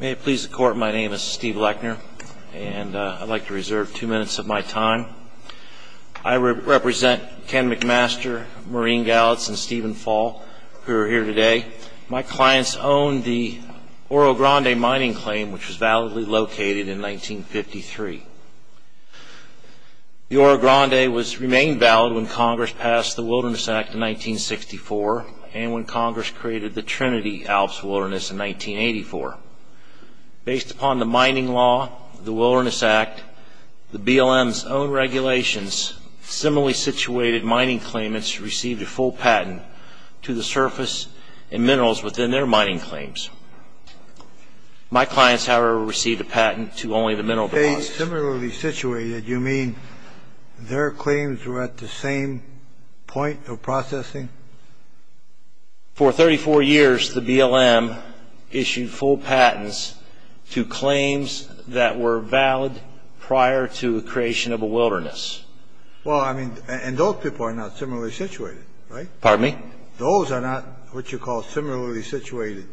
May it please the court my name is Steve Lechner and I'd like to reserve two minutes of my time. I represent Ken McMaster, Maureen Gallitz, and Stephen Fall who are here today. My clients own the Oro Grande mining claim which was validly located in 1953. The Oro Grande was remained valid when Congress passed the Wilderness Act in 1964 and when Congress created the Trinity Alps Wilderness in 1984. Based upon the mining law, the Wilderness Act, the BLM's own regulations, similarly situated mining claimants received a full patent to the surface and minerals within their mining claims. My clients however received a patent to only the mineral deposits. Similarly situated you mean their claims were at the same point of processing? For 34 years the BLM issued full patents to claims that were valid prior to the creation of a wilderness. Well I mean and those people are not similarly situated right? Pardon me? Those are not what you call similarly situated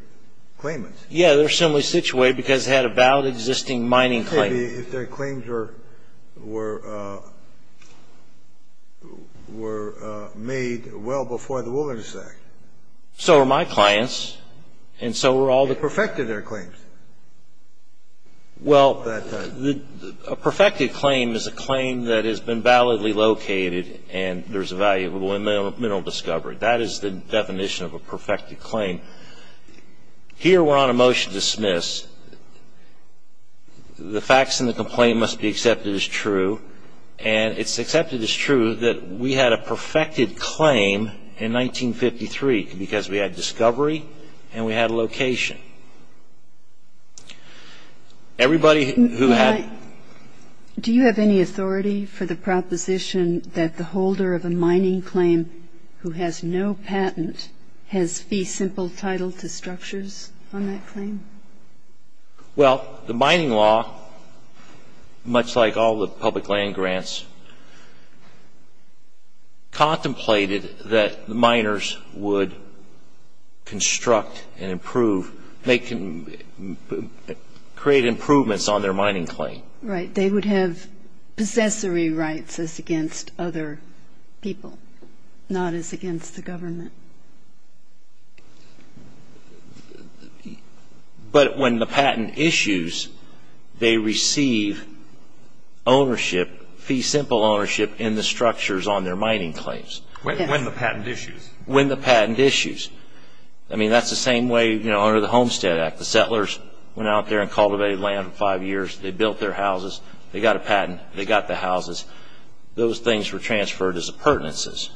claimants. Yeah they're similarly situated because they had a valid existing mining claim. Maybe if their claims were made well before the Wilderness Act. So are my clients and so were all the... They perfected their claims. Well a perfected claim is a claim that has been validly located and there's a valuable mineral discovery. That is the definition of a perfected claim. Here we're on a dismiss. The facts in the complaint must be accepted as true and it's accepted as true that we had a perfected claim in 1953 because we had discovery and we had a location. Everybody who had... Do you have any authority for the proposition that the holder of a mining claim who has no patent has fee simple title to claim? Well the mining law, much like all the public land grants, contemplated that the miners would construct and improve, make and create improvements on their mining claim. Right they would have possessory rights as against other people, not as against the government. But when the patent issues, they receive ownership, fee simple ownership in the structures on their mining claims. When the patent issues? When the patent issues. I mean that's the same way under the Homestead Act. The settlers went out there and cultivated land for five years. They built their houses. They got a patent. They got the houses. Those things were transferred as appurtenances.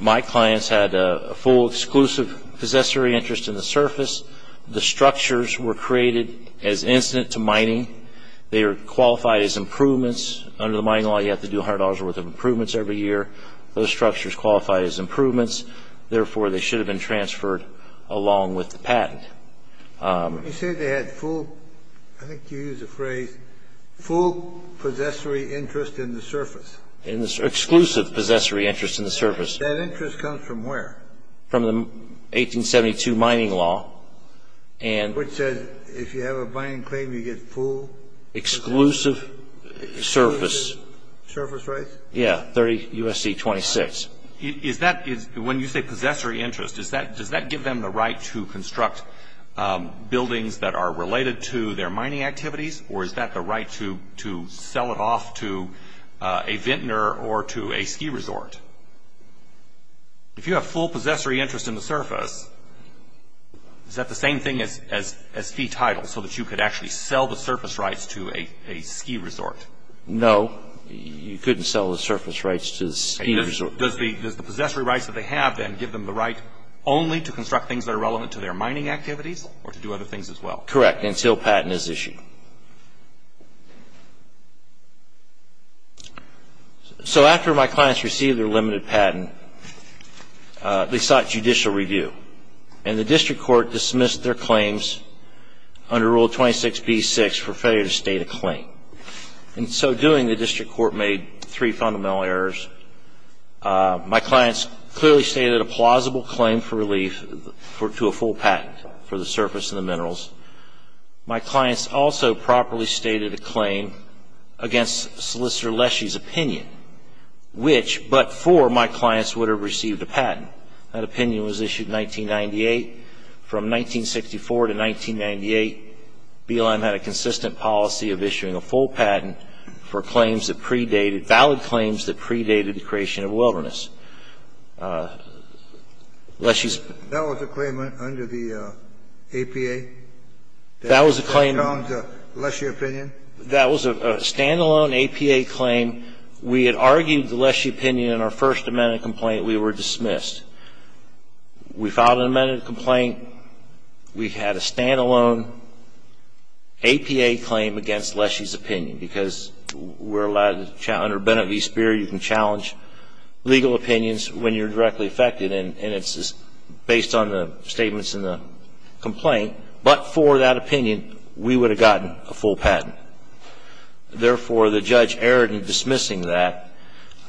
My clients had a full exclusive possessory interest in the surface. The structures were created as incident to mining. They are qualified as improvements. Under the mining law you have to do $100 worth of improvements every year. Those structures qualify as improvements. Therefore, they should have been transferred along with the patent. You said they had full, I think you used the phrase, full possessory interest in the surface. Exclusive possessory interest in the surface. That interest comes from where? From the 1872 mining law. Which says if you have a mining claim you get full? Exclusive surface. Surface rights? Yeah, 30 U.S.C. 26. When you say possessory interest, does that give them the right to construct buildings that are related to their mining activities or is that the right to sell it off to a vintner or to a ski resort? If you have full possessory interest in the surface, is that the same thing as fee title so that you could actually sell the surface rights to a ski resort? No. You couldn't sell the surface rights to the ski resort. Does the possessory rights that they have then give them the right only to construct things that are relevant to their mining activities or to do other things as well? Correct, until patent is issued. So after my clients received their limited patent, they sought judicial review and the district court dismissed their claims under Rule 26b-6 for failure to state a claim. In so doing, the district court made three fundamental errors. My clients clearly stated a plausible claim for my clients also properly stated a claim against Solicitor Leshy's opinion, which but for my clients would have received a patent. That opinion was issued in 1998. From 1964 to 1998, BLM had a consistent policy of issuing a full patent for claims that predated, valid claims that predated the creation of wilderness. That was a claim under the APA? That was a claim under Leshy's opinion? That was a stand-alone APA claim. We had argued the Leshy opinion in our first amendment complaint. We were dismissed. We filed an amended complaint. We had a stand-alone APA claim against Leshy's opinion because we're allowed to challenge, under Now, if you look at the APA claim, it's based on Leshy's opinions when you're directly affected, and it's based on the statements in the complaint. But for that opinion, we would have gotten a full patent. Therefore, the judge erred in dismissing that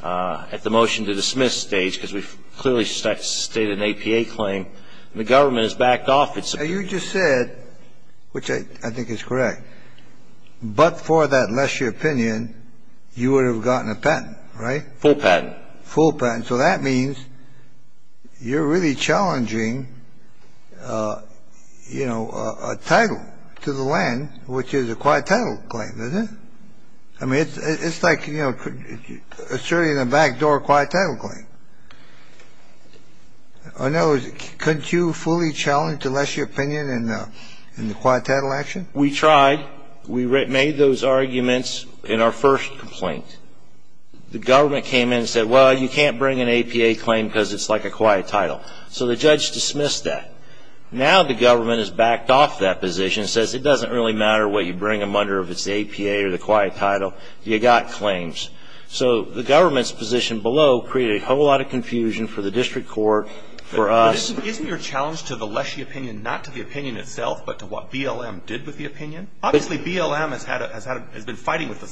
at the motion to dismiss stage because we clearly stated an APA claim, and the government has backed off. So you just said, which I think is correct, but for that Leshy opinion, you would have gotten a patent, right? Full patent. Full patent. So that means you're really challenging, you know, a title to the land, which is a quiet title claim, is it? I mean, it's like, you know, asserting a backdoor quiet title claim. I know, couldn't you fully challenge the Leshy opinion in the quiet title action? We tried. We made those arguments in our first complaint. The government came in and said, well, you can't bring an APA claim because it's like a quiet title. So the judge dismissed that. Now the government has backed off that position, says it doesn't really matter what you bring them under if it's the APA or the quiet title. You got claims. So the government's position below created a whole lot of confusion for the district court, for us. But isn't your challenge to the Leshy opinion not to the opinion itself, but to what BLM did with the opinion? Obviously, BLM has been fighting with the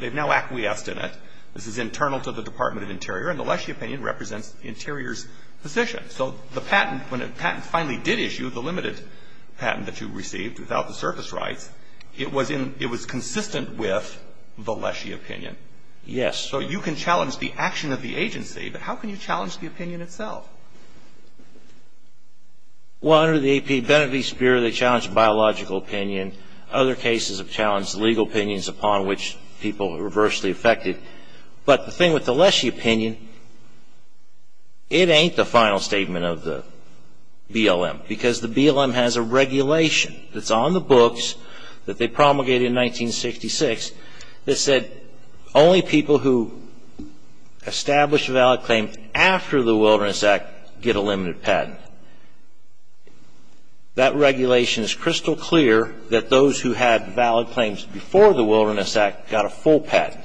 they've now acquiesced in it. This is internal to the Department of Interior, and the Leshy opinion represents the Interior's position. So the patent, when a patent finally did issue, the limited patent that you received without the surface rights, it was in, it was consistent with the Leshy opinion. Yes. So you can challenge the action of the agency, but how can you challenge the opinion itself? Well, under the APA, Benefice Bureau, they challenged biological opinion. Other cases have challenged legal opinions upon which people were reversely affected. But the thing with the Leshy opinion, it ain't the final statement of the BLM, because the BLM has a regulation that's on the books that they promulgated in 1966 that said only people who establish a valid claim after the Wilderness Act get a limited patent. That regulation is that those who had valid claims before the Wilderness Act got a full patent.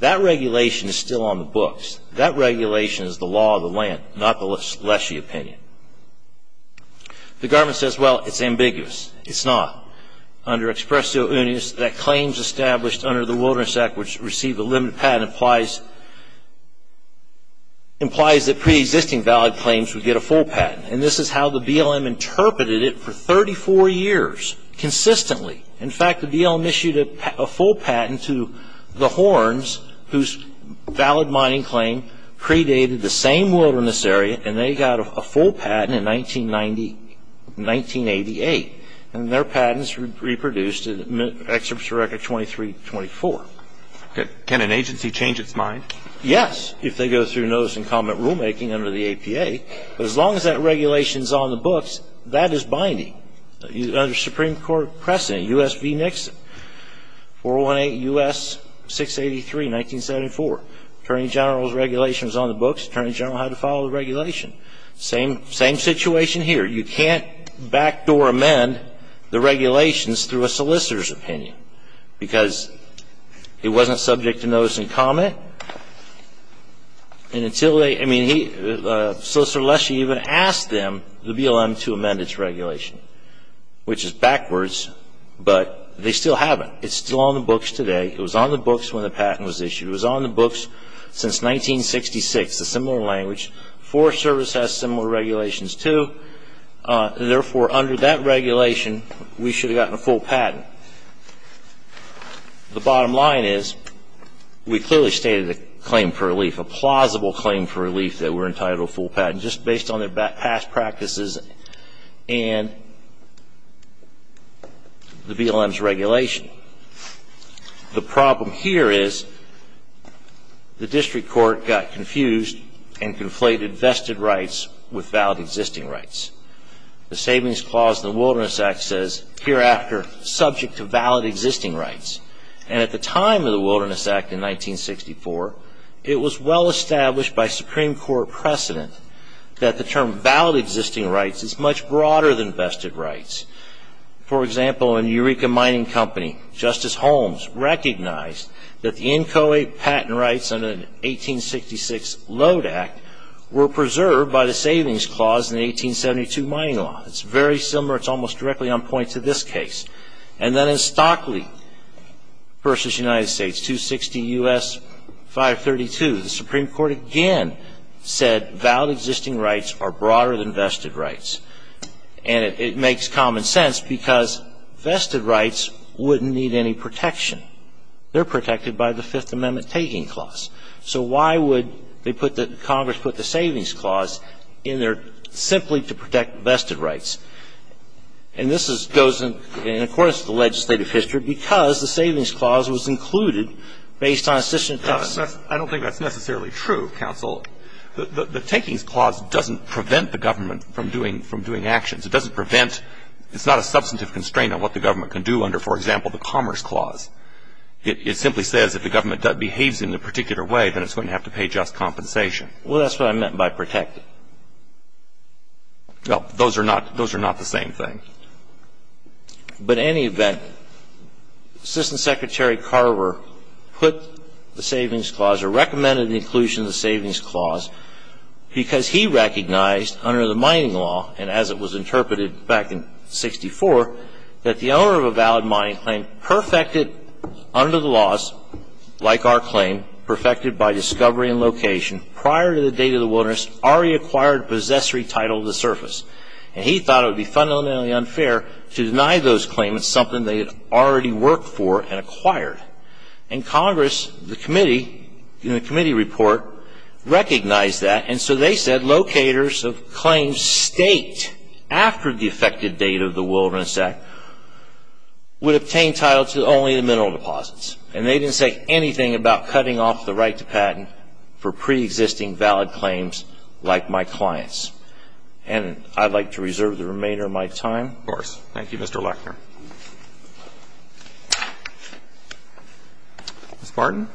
That regulation is still on the books. That regulation is the law of the land, not the Leshy opinion. The government says, well, it's ambiguous. It's not. Under Expresso Unis, that claims established under the Wilderness Act which receive a limited patent implies that pre-existing valid claims would get a full patent. And this is how the BLM interpreted it for 34 years, consistently. In fact, the BLM issued a full patent to the Horns, whose valid mining claim predated the same wilderness area, and they got a full patent in 1988. And their patents reproduced in Expresso Record 2324. Can an agency change its mind? Yes, if they go through notice and comment rulemaking under the APA. But as long as the regulation is on the books, that is binding. Under Supreme Court precedent, U.S. v. Nixon, 418 U.S. 683, 1974. Attorney General's regulation is on the books. Attorney General had to follow the regulation. Same situation here. You can't backdoor amend the regulations through a solicitor's opinion because he wasn't subject to notice and comment. And until they, I mean, Solicitor Leshee even asked them, the BLM, to amend its regulation, which is backwards, but they still haven't. It's still on the books today. It was on the books when the patent was issued. It was on the books since 1966. It's a similar language. Forest Service has similar regulations too. Therefore, under that regulation, we should have gotten a full patent. The bottom line is, we clearly stated a claim for relief, a plausible claim for title, full patent, just based on their past practices and the BLM's regulation. The problem here is the district court got confused and conflated vested rights with valid existing rights. The Savings Clause in the Wilderness Act says, hereafter, subject to valid existing rights. And at the time of the Wilderness Act, in 1964, it was well established by Supreme Court precedent that the term valid existing rights is much broader than vested rights. For example, in Eureka Mining Company, Justice Holmes recognized that the inchoate patent rights under the 1866 Load Act were preserved by the Savings Clause in the 1872 Mining Law. It's very similar. It's almost directly on point to this case. And then in Stockley v. United States, Justice Kennedy said, valid existing rights are broader than vested rights. And it makes common sense, because vested rights wouldn't need any protection. They're protected by the Fifth Amendment taking clause. So why would they put the – Congress put the Savings Clause in there simply to protect vested rights? And this goes in accordance with the legislative history, because the Savings Clause is not necessarily true, counsel. The Takings Clause doesn't prevent the government from doing actions. It doesn't prevent – it's not a substantive constraint on what the government can do under, for example, the Commerce Clause. It simply says if the government behaves in a particular way, then it's going to have to pay just compensation. Well, that's what I meant by protected. Well, those are not – those are not the same thing. But in any event, Assistant Secretary Carver put the Savings Clause, or recommended the inclusion of the Savings Clause, because he recognized under the mining law, and as it was interpreted back in 1964, that the owner of a valid mining claim perfected under the laws, like our claim, perfected by discovery and location prior to the date of the wilderness, already acquired possessory title of the surface. And he thought it would be fundamentally unfair to deny those claimants something they had already worked for and acquired. And Congress, the committee, in the committee report, recognized that. And so they said locators of claims staked after the effective date of the Wilderness Act would obtain title to only the mineral deposits. And they didn't say anything about cutting off the right to patent for preexisting valid claims like my client's. And I'd like to reserve the remainder of my time. Of course. Thank you, Mr. Lechner. Ms. Barton?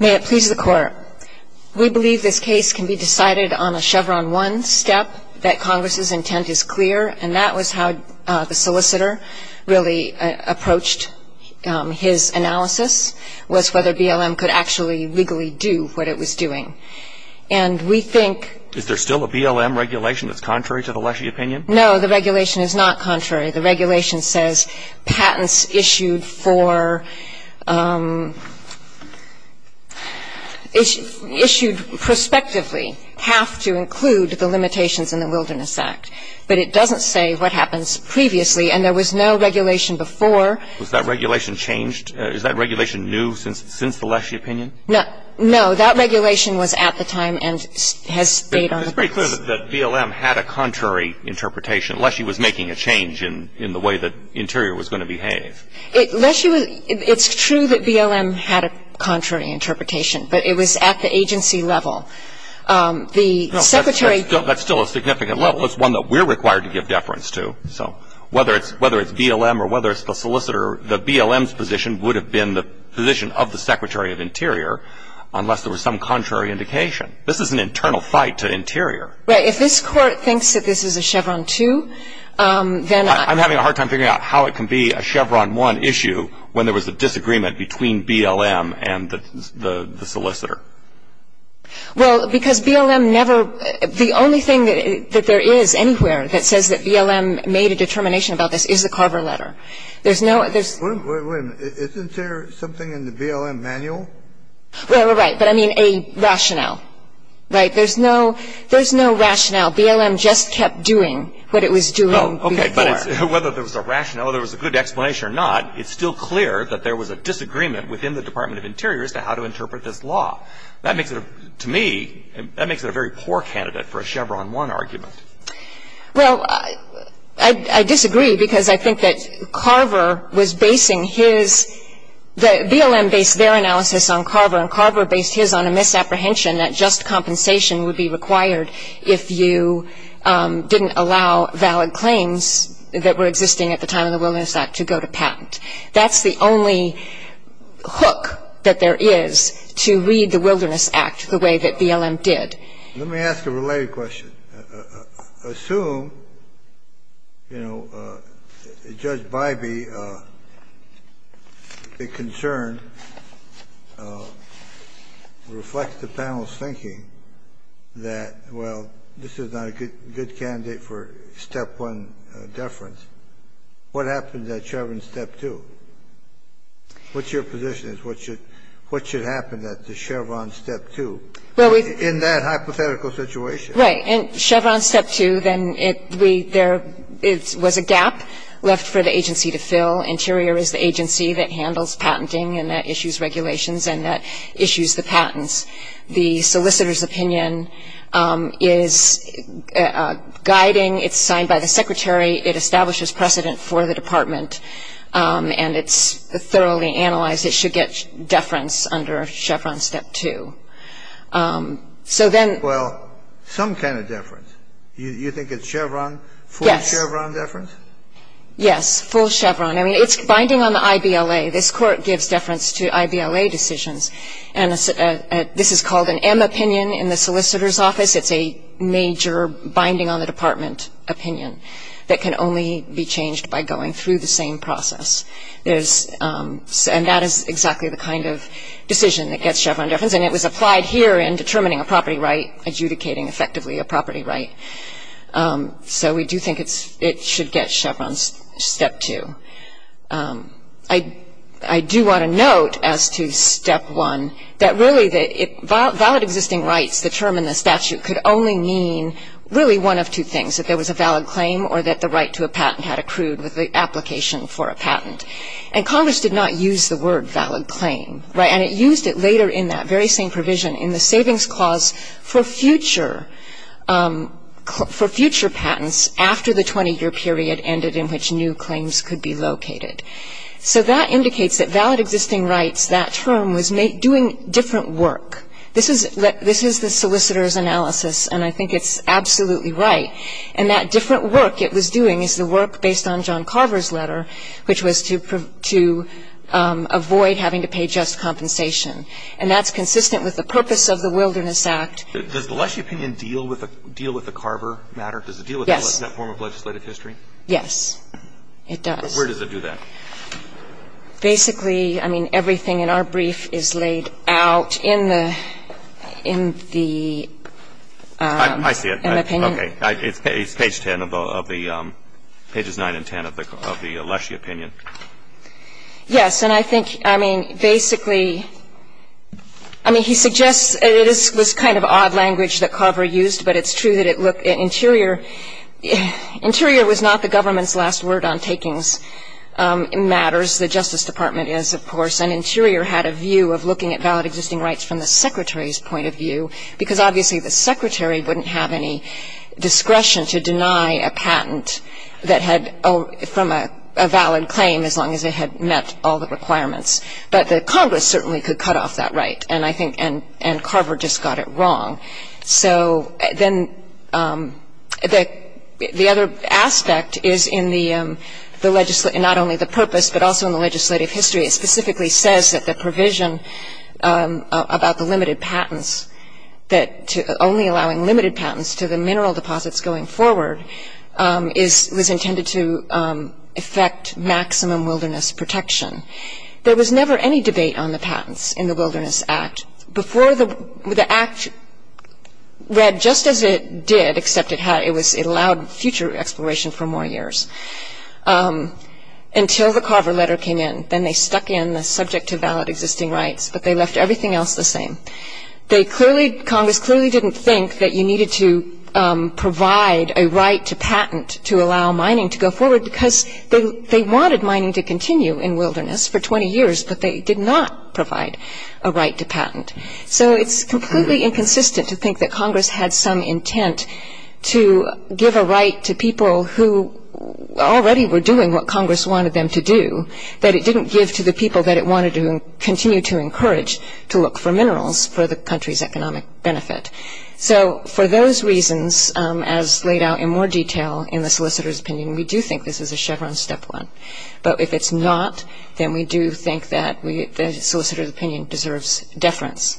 May it please the Court. We believe this case can be decided on a Chevron 1 step, that Congress's intent is clear. And that was how the solicitor really approached his analysis, was whether BLM could actually legally do what it was doing. And we think Is there still a BLM regulation that's contrary to the Lechy opinion? No, the regulation is not contrary. The regulation says patents issued for issued prospectively have to include the limitations in the Wilderness Act. But it doesn't say what happens previously. And there was no regulation before. Was that regulation changed? Is that regulation new since the Lechy opinion? No. That regulation was at the time and has stayed on the books. It's pretty clear that BLM had a contrary interpretation, unless he was making a change in the way that Interior was going to behave. It's true that BLM had a contrary interpretation, but it was at the agency level. The secretary That's still a significant level. That's one that we're required to give deference to. So whether it's BLM or whether it's the solicitor, the BLM's position would have been the position of the Secretary of Interior unless there was some contrary indication. This is an internal fight to Interior. Right. If this Court thinks that this is a Chevron 2, then I I'm having a hard time figuring out how it can be a Chevron 1 issue when there was a disagreement between BLM and the solicitor. Well, because BLM never, the only thing that there is anywhere that says that BLM made a determination about this is the Carver letter. There's no, there's Wait a minute. Isn't there something in the BLM manual? Well, right. But I mean a rationale, right? There's no, there's no rationale. BLM just kept doing what it was doing before. Okay. But whether there was a rationale or there was a good explanation or not, it's still clear that there was a disagreement within the Department of Interior as to how to interpret this law. That makes it, to me, that makes it a very poor candidate for a Chevron 1 argument. Well, I disagree because I think that Carver was basing his, BLM based their analysis on Carver, and Carver based his on a misapprehension that just compensation would be required if you didn't allow valid claims that were existing at the time of the Wilderness Act to go to patent. That's the only hook that there is to read the Wilderness Act the way that BLM did. Let me ask a related question. Assume, you know, Judge Bybee, the concern reflects the panel's thinking that, well, this is not a good candidate for Step 1 deference. What happens at Chevron Step 2? What's your position as to what should happen at the Chevron Step 2 in that hypothetical situation? Right. In Chevron Step 2, then, there was a gap left for the agency to fill. Interior is the agency that handles patenting and that issues regulations and that issues the patents. The solicitor's opinion is guiding. It's signed by the secretary. It establishes precedent for the department, and it's thoroughly analyzed. It should get deference under Chevron Step 2. So then — Well, some kind of deference. You think it's Chevron — Yes. Full Chevron deference? Yes. Full Chevron. I mean, it's binding on the IBLA. This Court gives deference to IBLA decisions, and this is called an M opinion in the solicitor's office. It's a major binding-on-the-department opinion that can only be changed by going through the same process. There's — and that is exactly the kind of decision that gets Chevron deference, and it was applied here in determining a property right, adjudicating effectively a property right. So we do think it should get Chevron Step 2. I do want to note as to Step 1 that really that it — valid existing rights, the term in the statute, could only mean really one of two things, that there was a valid claim or that the right to a patent had accrued with the application for a patent. And Congress did not use the word valid claim, right? And it used it later in that very same provision in the savings clause for future — for future patents after the 20-year period ended in which new claims could be located. So that indicates that valid existing rights, that term, was doing different work. This is the solicitor's analysis, and I think it's absolutely right. And that different work it was doing is the work based on John Carver's letter, which was to avoid having to pay just compensation. And that's consistent with the purpose of the Wilderness Act. Does the Lessee opinion deal with the Carver matter? Yes. Does it deal with that form of legislative history? Yes, it does. But where does it do that? Basically, I mean, everything in our brief is laid out in the — in the opinion. Okay. It's page 10 of the — pages 9 and 10 of the Lessee opinion. Yes. And I think, I mean, basically — I mean, he suggests — it is this kind of odd language that Carver used, but it's true that it looked — Interior — Interior was not the government's last word on takings matters. The Justice Department is, of course. And Interior had a view of looking at valid existing rights from the Secretary's point of view, because obviously the Secretary wouldn't have any discretion to deny a patent that had — from a valid claim, as long as it had met all the requirements. But the Congress certainly could cut off that right. And I think — and Carver just got it wrong. So then the other aspect is in the — not only the purpose, but also in the legislative history, it specifically says that the provision about the limited patents that — only allowing limited patents to the mineral deposits going forward is — was intended to affect maximum wilderness protection. There was never any debate on the patents in the Wilderness Act. Before the — the act read just as it did, except it had — it was — it allowed future exploration for more years. Until the Carver letter came in. Then they stuck in the subject to valid existing rights, but they left everything else the same. They clearly — Congress clearly didn't think that you needed to provide a right to patent to allow mining to go forward, because they wanted mining to continue in wilderness for 20 years, but they did not provide a right to patent. So it's completely inconsistent to think that Congress had some intent to give a right to people who already were doing what Congress wanted them to do, but it didn't give to the people that it wanted to continue to encourage to look for minerals for the country's economic benefit. So for those reasons, as laid out in more detail in the solicitor's opinion, we do think this is a Chevron step one. But if it's not, then we do think that we — the solicitor's opinion deserves deference.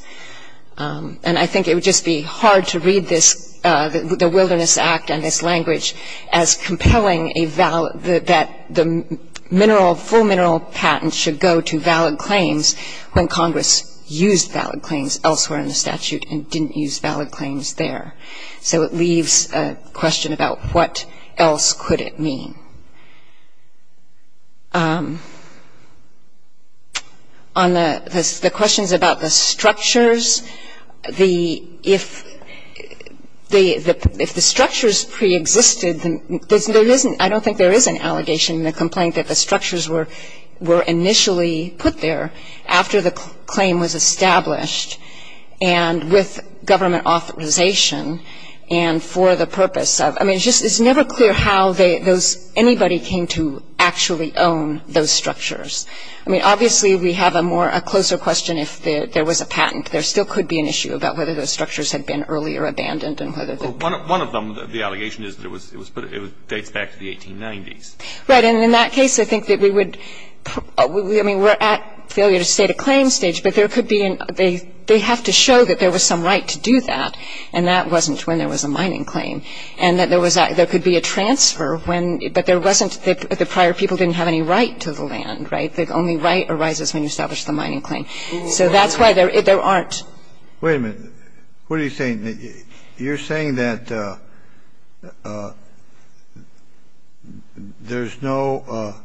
And I think it would just be hard to read this — the Wilderness Act and this language as compelling a — that the mineral — full mineral patent should go to valid claims when Congress used valid claims elsewhere in the statute and didn't use valid claims there. So it leaves a question about what else could it mean. On the questions about the structures, the — if the structures preexisted, there isn't — I don't think there is an allegation in the complaint that the structures were initially put there after the claim was established and with government authorization and for the purpose of — I mean, it's just — it's never clear how they — those — anybody came to actually own those structures. I mean, obviously, we have a more — a closer question if there was a patent. There still could be an issue about whether those structures had been earlier abandoned and whether they were — Well, one of them, the allegation is that it was put — it dates back to the 1890s. Right. And in that case, I think that we would — I mean, we're at failure to state a claim stage, but there could be an — they have to show that there was some right to do that, and that wasn't when there was a mining claim, and that there was a — there could be a transfer when — but there wasn't — the prior people didn't have any right to the land, right? The only right arises when you establish the mining claim. So that's why there aren't — Wait a minute. What are you saying? You're saying that there's no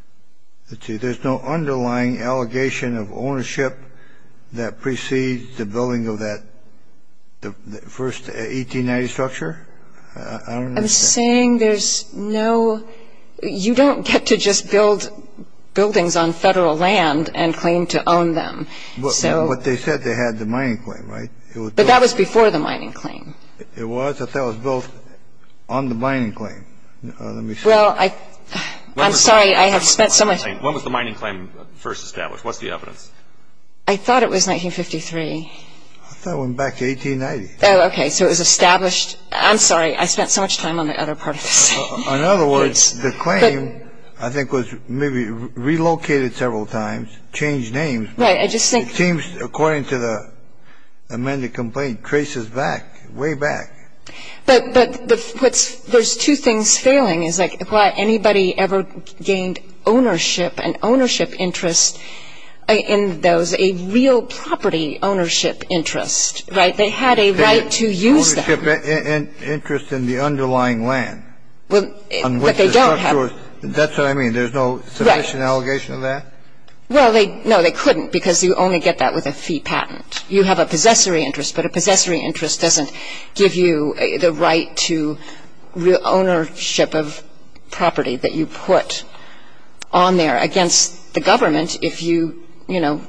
— let's see — there's no underlying allegation of ownership that precedes the building of that — the first 1890s structure? I don't understand. I'm saying there's no — you don't get to just build buildings on Federal land and claim to own them, so — But they said they had the mining claim, right? It was built — But that was before the mining claim. It was, but that was built on the mining claim. Let me see. Well, I — I'm sorry, I have spent so much — When was the mining claim first established? What's the evidence? I thought it was 1953. I thought it went back to 1890. Oh, okay. So it was established — I'm sorry. I spent so much time on the other part of this. In other words, the claim, I think, was maybe relocated several times, changed names. Right. I just think — It seems, according to the amended complaint, traces back, way back. But the — what's — there's two things failing. It's like, anybody ever gained ownership, an ownership interest in those — a real property ownership interest, right? They had a right to use them. Ownership interest in the underlying land, on which the structure is — That's what I mean. There's no sufficient allegation of that? Well, they — no, they couldn't, because you only get that with a fee patent. You have a possessory interest, but a possessory interest doesn't give you the right to ownership of property that you put on there. Against the government, if you, you know,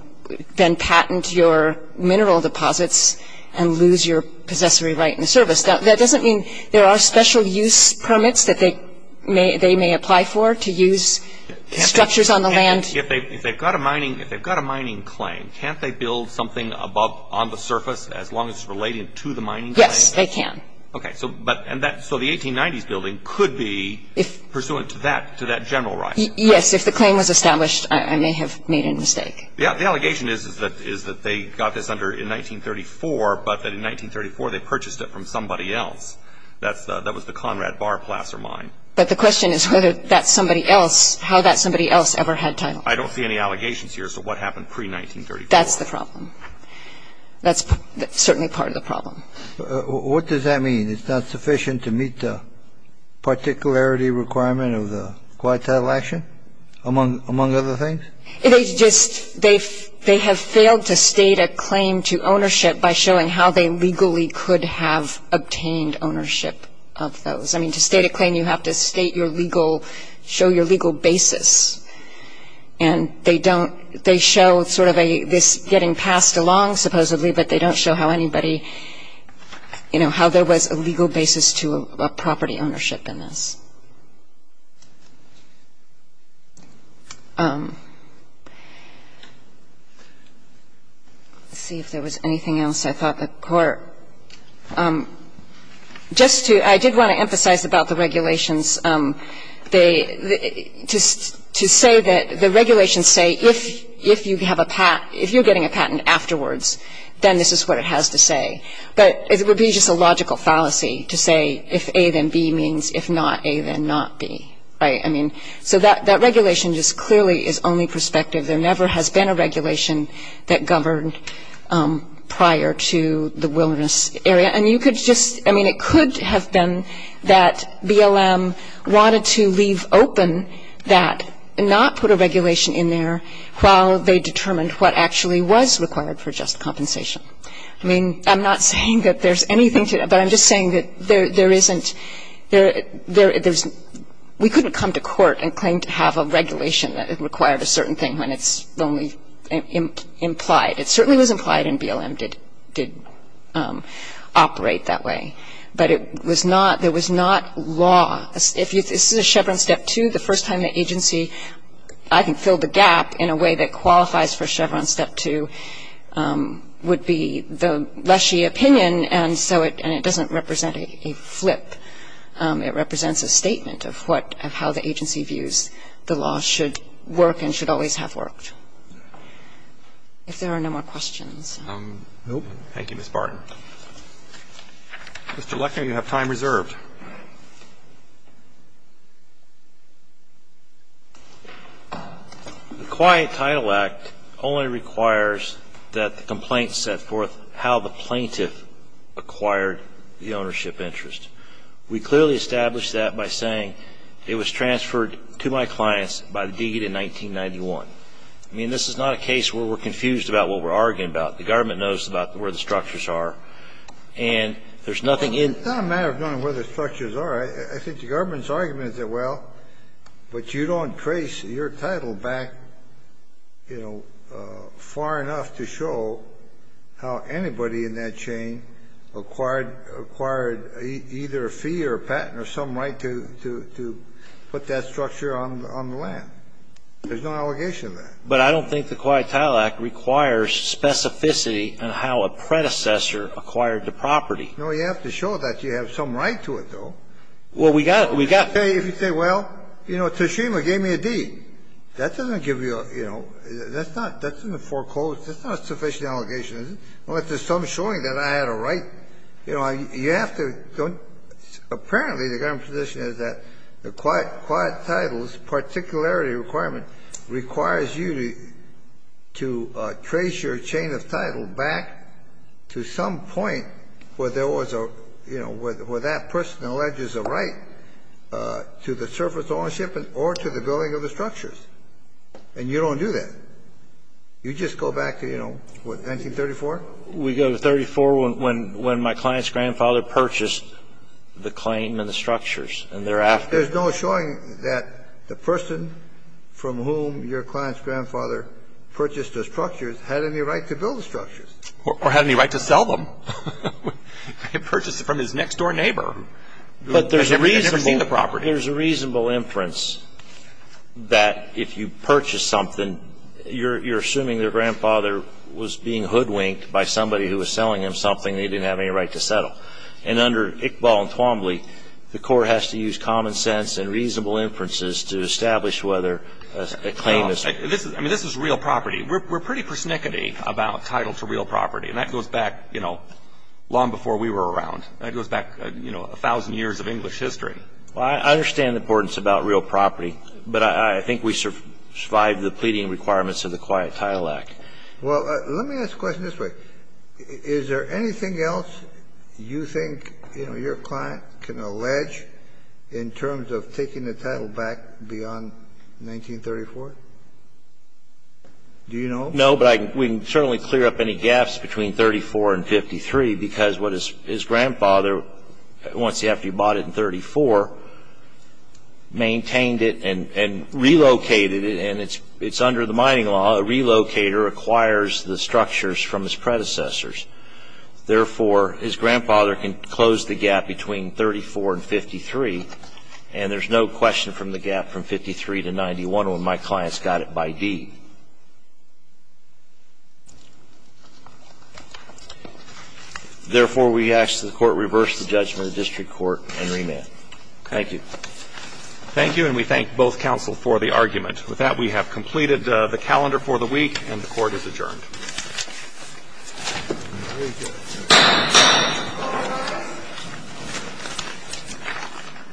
then patent your mineral deposits and lose your possessory right in service. Now, that doesn't mean — there are special use permits that they may apply for, to use structures on the land. If they've got a mining — if they've got a mining claim, can't they build something above, on the surface, as long as it's related to the mining claim? Yes, they can. Okay. So — but — and that — so the 1890s building could be pursuant to that — to that general right? Yes. If the claim was established, I may have made a mistake. Yeah. The allegation is that — is that they got this under — in 1934, but that in 1934, they purchased it from somebody else. That's the — that was the Conrad Barr placer mine. But the question is whether that somebody else — how that somebody else ever had title. I don't see any allegations here as to what happened pre-1934. That's the problem. That's certainly part of the problem. What does that mean? It's not sufficient to meet the particularity requirement of the quiet title action, among other things? It is just — they have failed to state a claim to ownership by showing how they legally could have obtained ownership of those. I mean, to state a claim, you have to state your legal — show your legal basis. And they don't — they show sort of a — this getting passed along, supposedly, but they don't show how anybody — you know, how there was a legal basis to a property ownership in this. Let's see if there was anything else I thought the Court — just to — I did want to emphasize about the regulations. They — to say that — the regulations say if you have a — if you're getting a patent afterwards, then this is what it has to say. But it would be just a logical fallacy to say if A, then B means if not A, then not B, right? I mean, so that regulation just clearly is only prospective. There never has been a regulation that governed prior to the wilderness area. And you could just — I mean, it could have been that BLM wanted to leave open that and not put a regulation in there while they determined what actually was required for just compensation. I mean, I'm not saying that there's anything to — but I'm just saying that there isn't — there's — we couldn't come to court and claim to have a regulation that required a certain thing when it's only implied. It certainly was implied in BLM did — did operate that way. But it was not — there was not law — if you — this is a Chevron Step 2. The first time the agency, I think, filled the gap in a way that qualifies for Chevron Step 2 would be the lessee opinion. And so it — and it doesn't represent a flip. It represents a statement of what — of how the agency views the law should work and should always have worked. If there are no more questions. Nope. Thank you, Ms. Barton. Mr. Lechner, you have time reserved. The Quiet Title Act only requires that the complaint set forth how the plaintiff acquired the ownership interest. We clearly established that by saying it was transferred to my clients by the deed in 1991. I mean, this is not a case where we're confused about what we're arguing about. The government knows about where the structures are. And there's nothing in — It's not a matter of knowing where the structures are. I think the government's argument is that, well, but you don't trace your title back, you know, far enough to show how anybody in that chain acquired — acquired either a fee or a patent or some right to — to put that structure on — on the land. There's no allegation of that. But I don't think the Quiet Title Act requires specificity in how a predecessor acquired the property. No, you have to show that you have some right to it, though. Well, we got — we got — If you say — if you say, well, you know, Teshima gave me a deed. That doesn't give you a — you know, that's not — that's in the foreclosed — that's not a sufficient allegation, is it? Unless there's some showing that I had a right. You know, you have to — apparently, the government's position is that the Quiet —— Property Requirement requires you to — to trace your chain of title back to some point where there was a — you know, where that person alleges a right to the surface ownership or to the building of the structures. And you don't do that. You just go back to, you know, what, 1934? We go to 34 when — when my client's grandfather purchased the claim and the structures, and thereafter — There's no showing that the person from whom your client's grandfather purchased the structures had any right to build the structures. Or had any right to sell them. He purchased it from his next-door neighbor. But there's a reasonable — He had never seen the property. There's a reasonable inference that if you purchase something, you're — you're assuming their grandfather was being hoodwinked by somebody who was selling them something they didn't have any right to settle. And under Iqbal and Twombly, the court has to use common sense and reasonable inferences to establish whether a claim is — I mean, this is real property. We're pretty persnickety about title to real property. And that goes back, you know, long before we were around. That goes back, you know, a thousand years of English history. Well, I understand the importance about real property, but I think we survive the pleading requirements of the Quiet Title Act. Well, let me ask a question this way. Is there anything else you think, you know, your client can allege in terms of taking the title back beyond 1934? Do you know? No, but I — we can certainly clear up any gaps between 34 and 53, because what his grandfather, once he — after he bought it in 34, maintained it and — and relocated it. And it's under the mining law. A relocator acquires the structures from his predecessors. Therefore, his grandfather can close the gap between 34 and 53, and there's no question from the gap from 53 to 91 when my client's got it by deed. Therefore, we ask that the court reverse the judgment of the district court and remand. Thank you. Thank you, and we thank both counsel for the argument. With that, we have completed the calendar for the week, and the court is adjourned.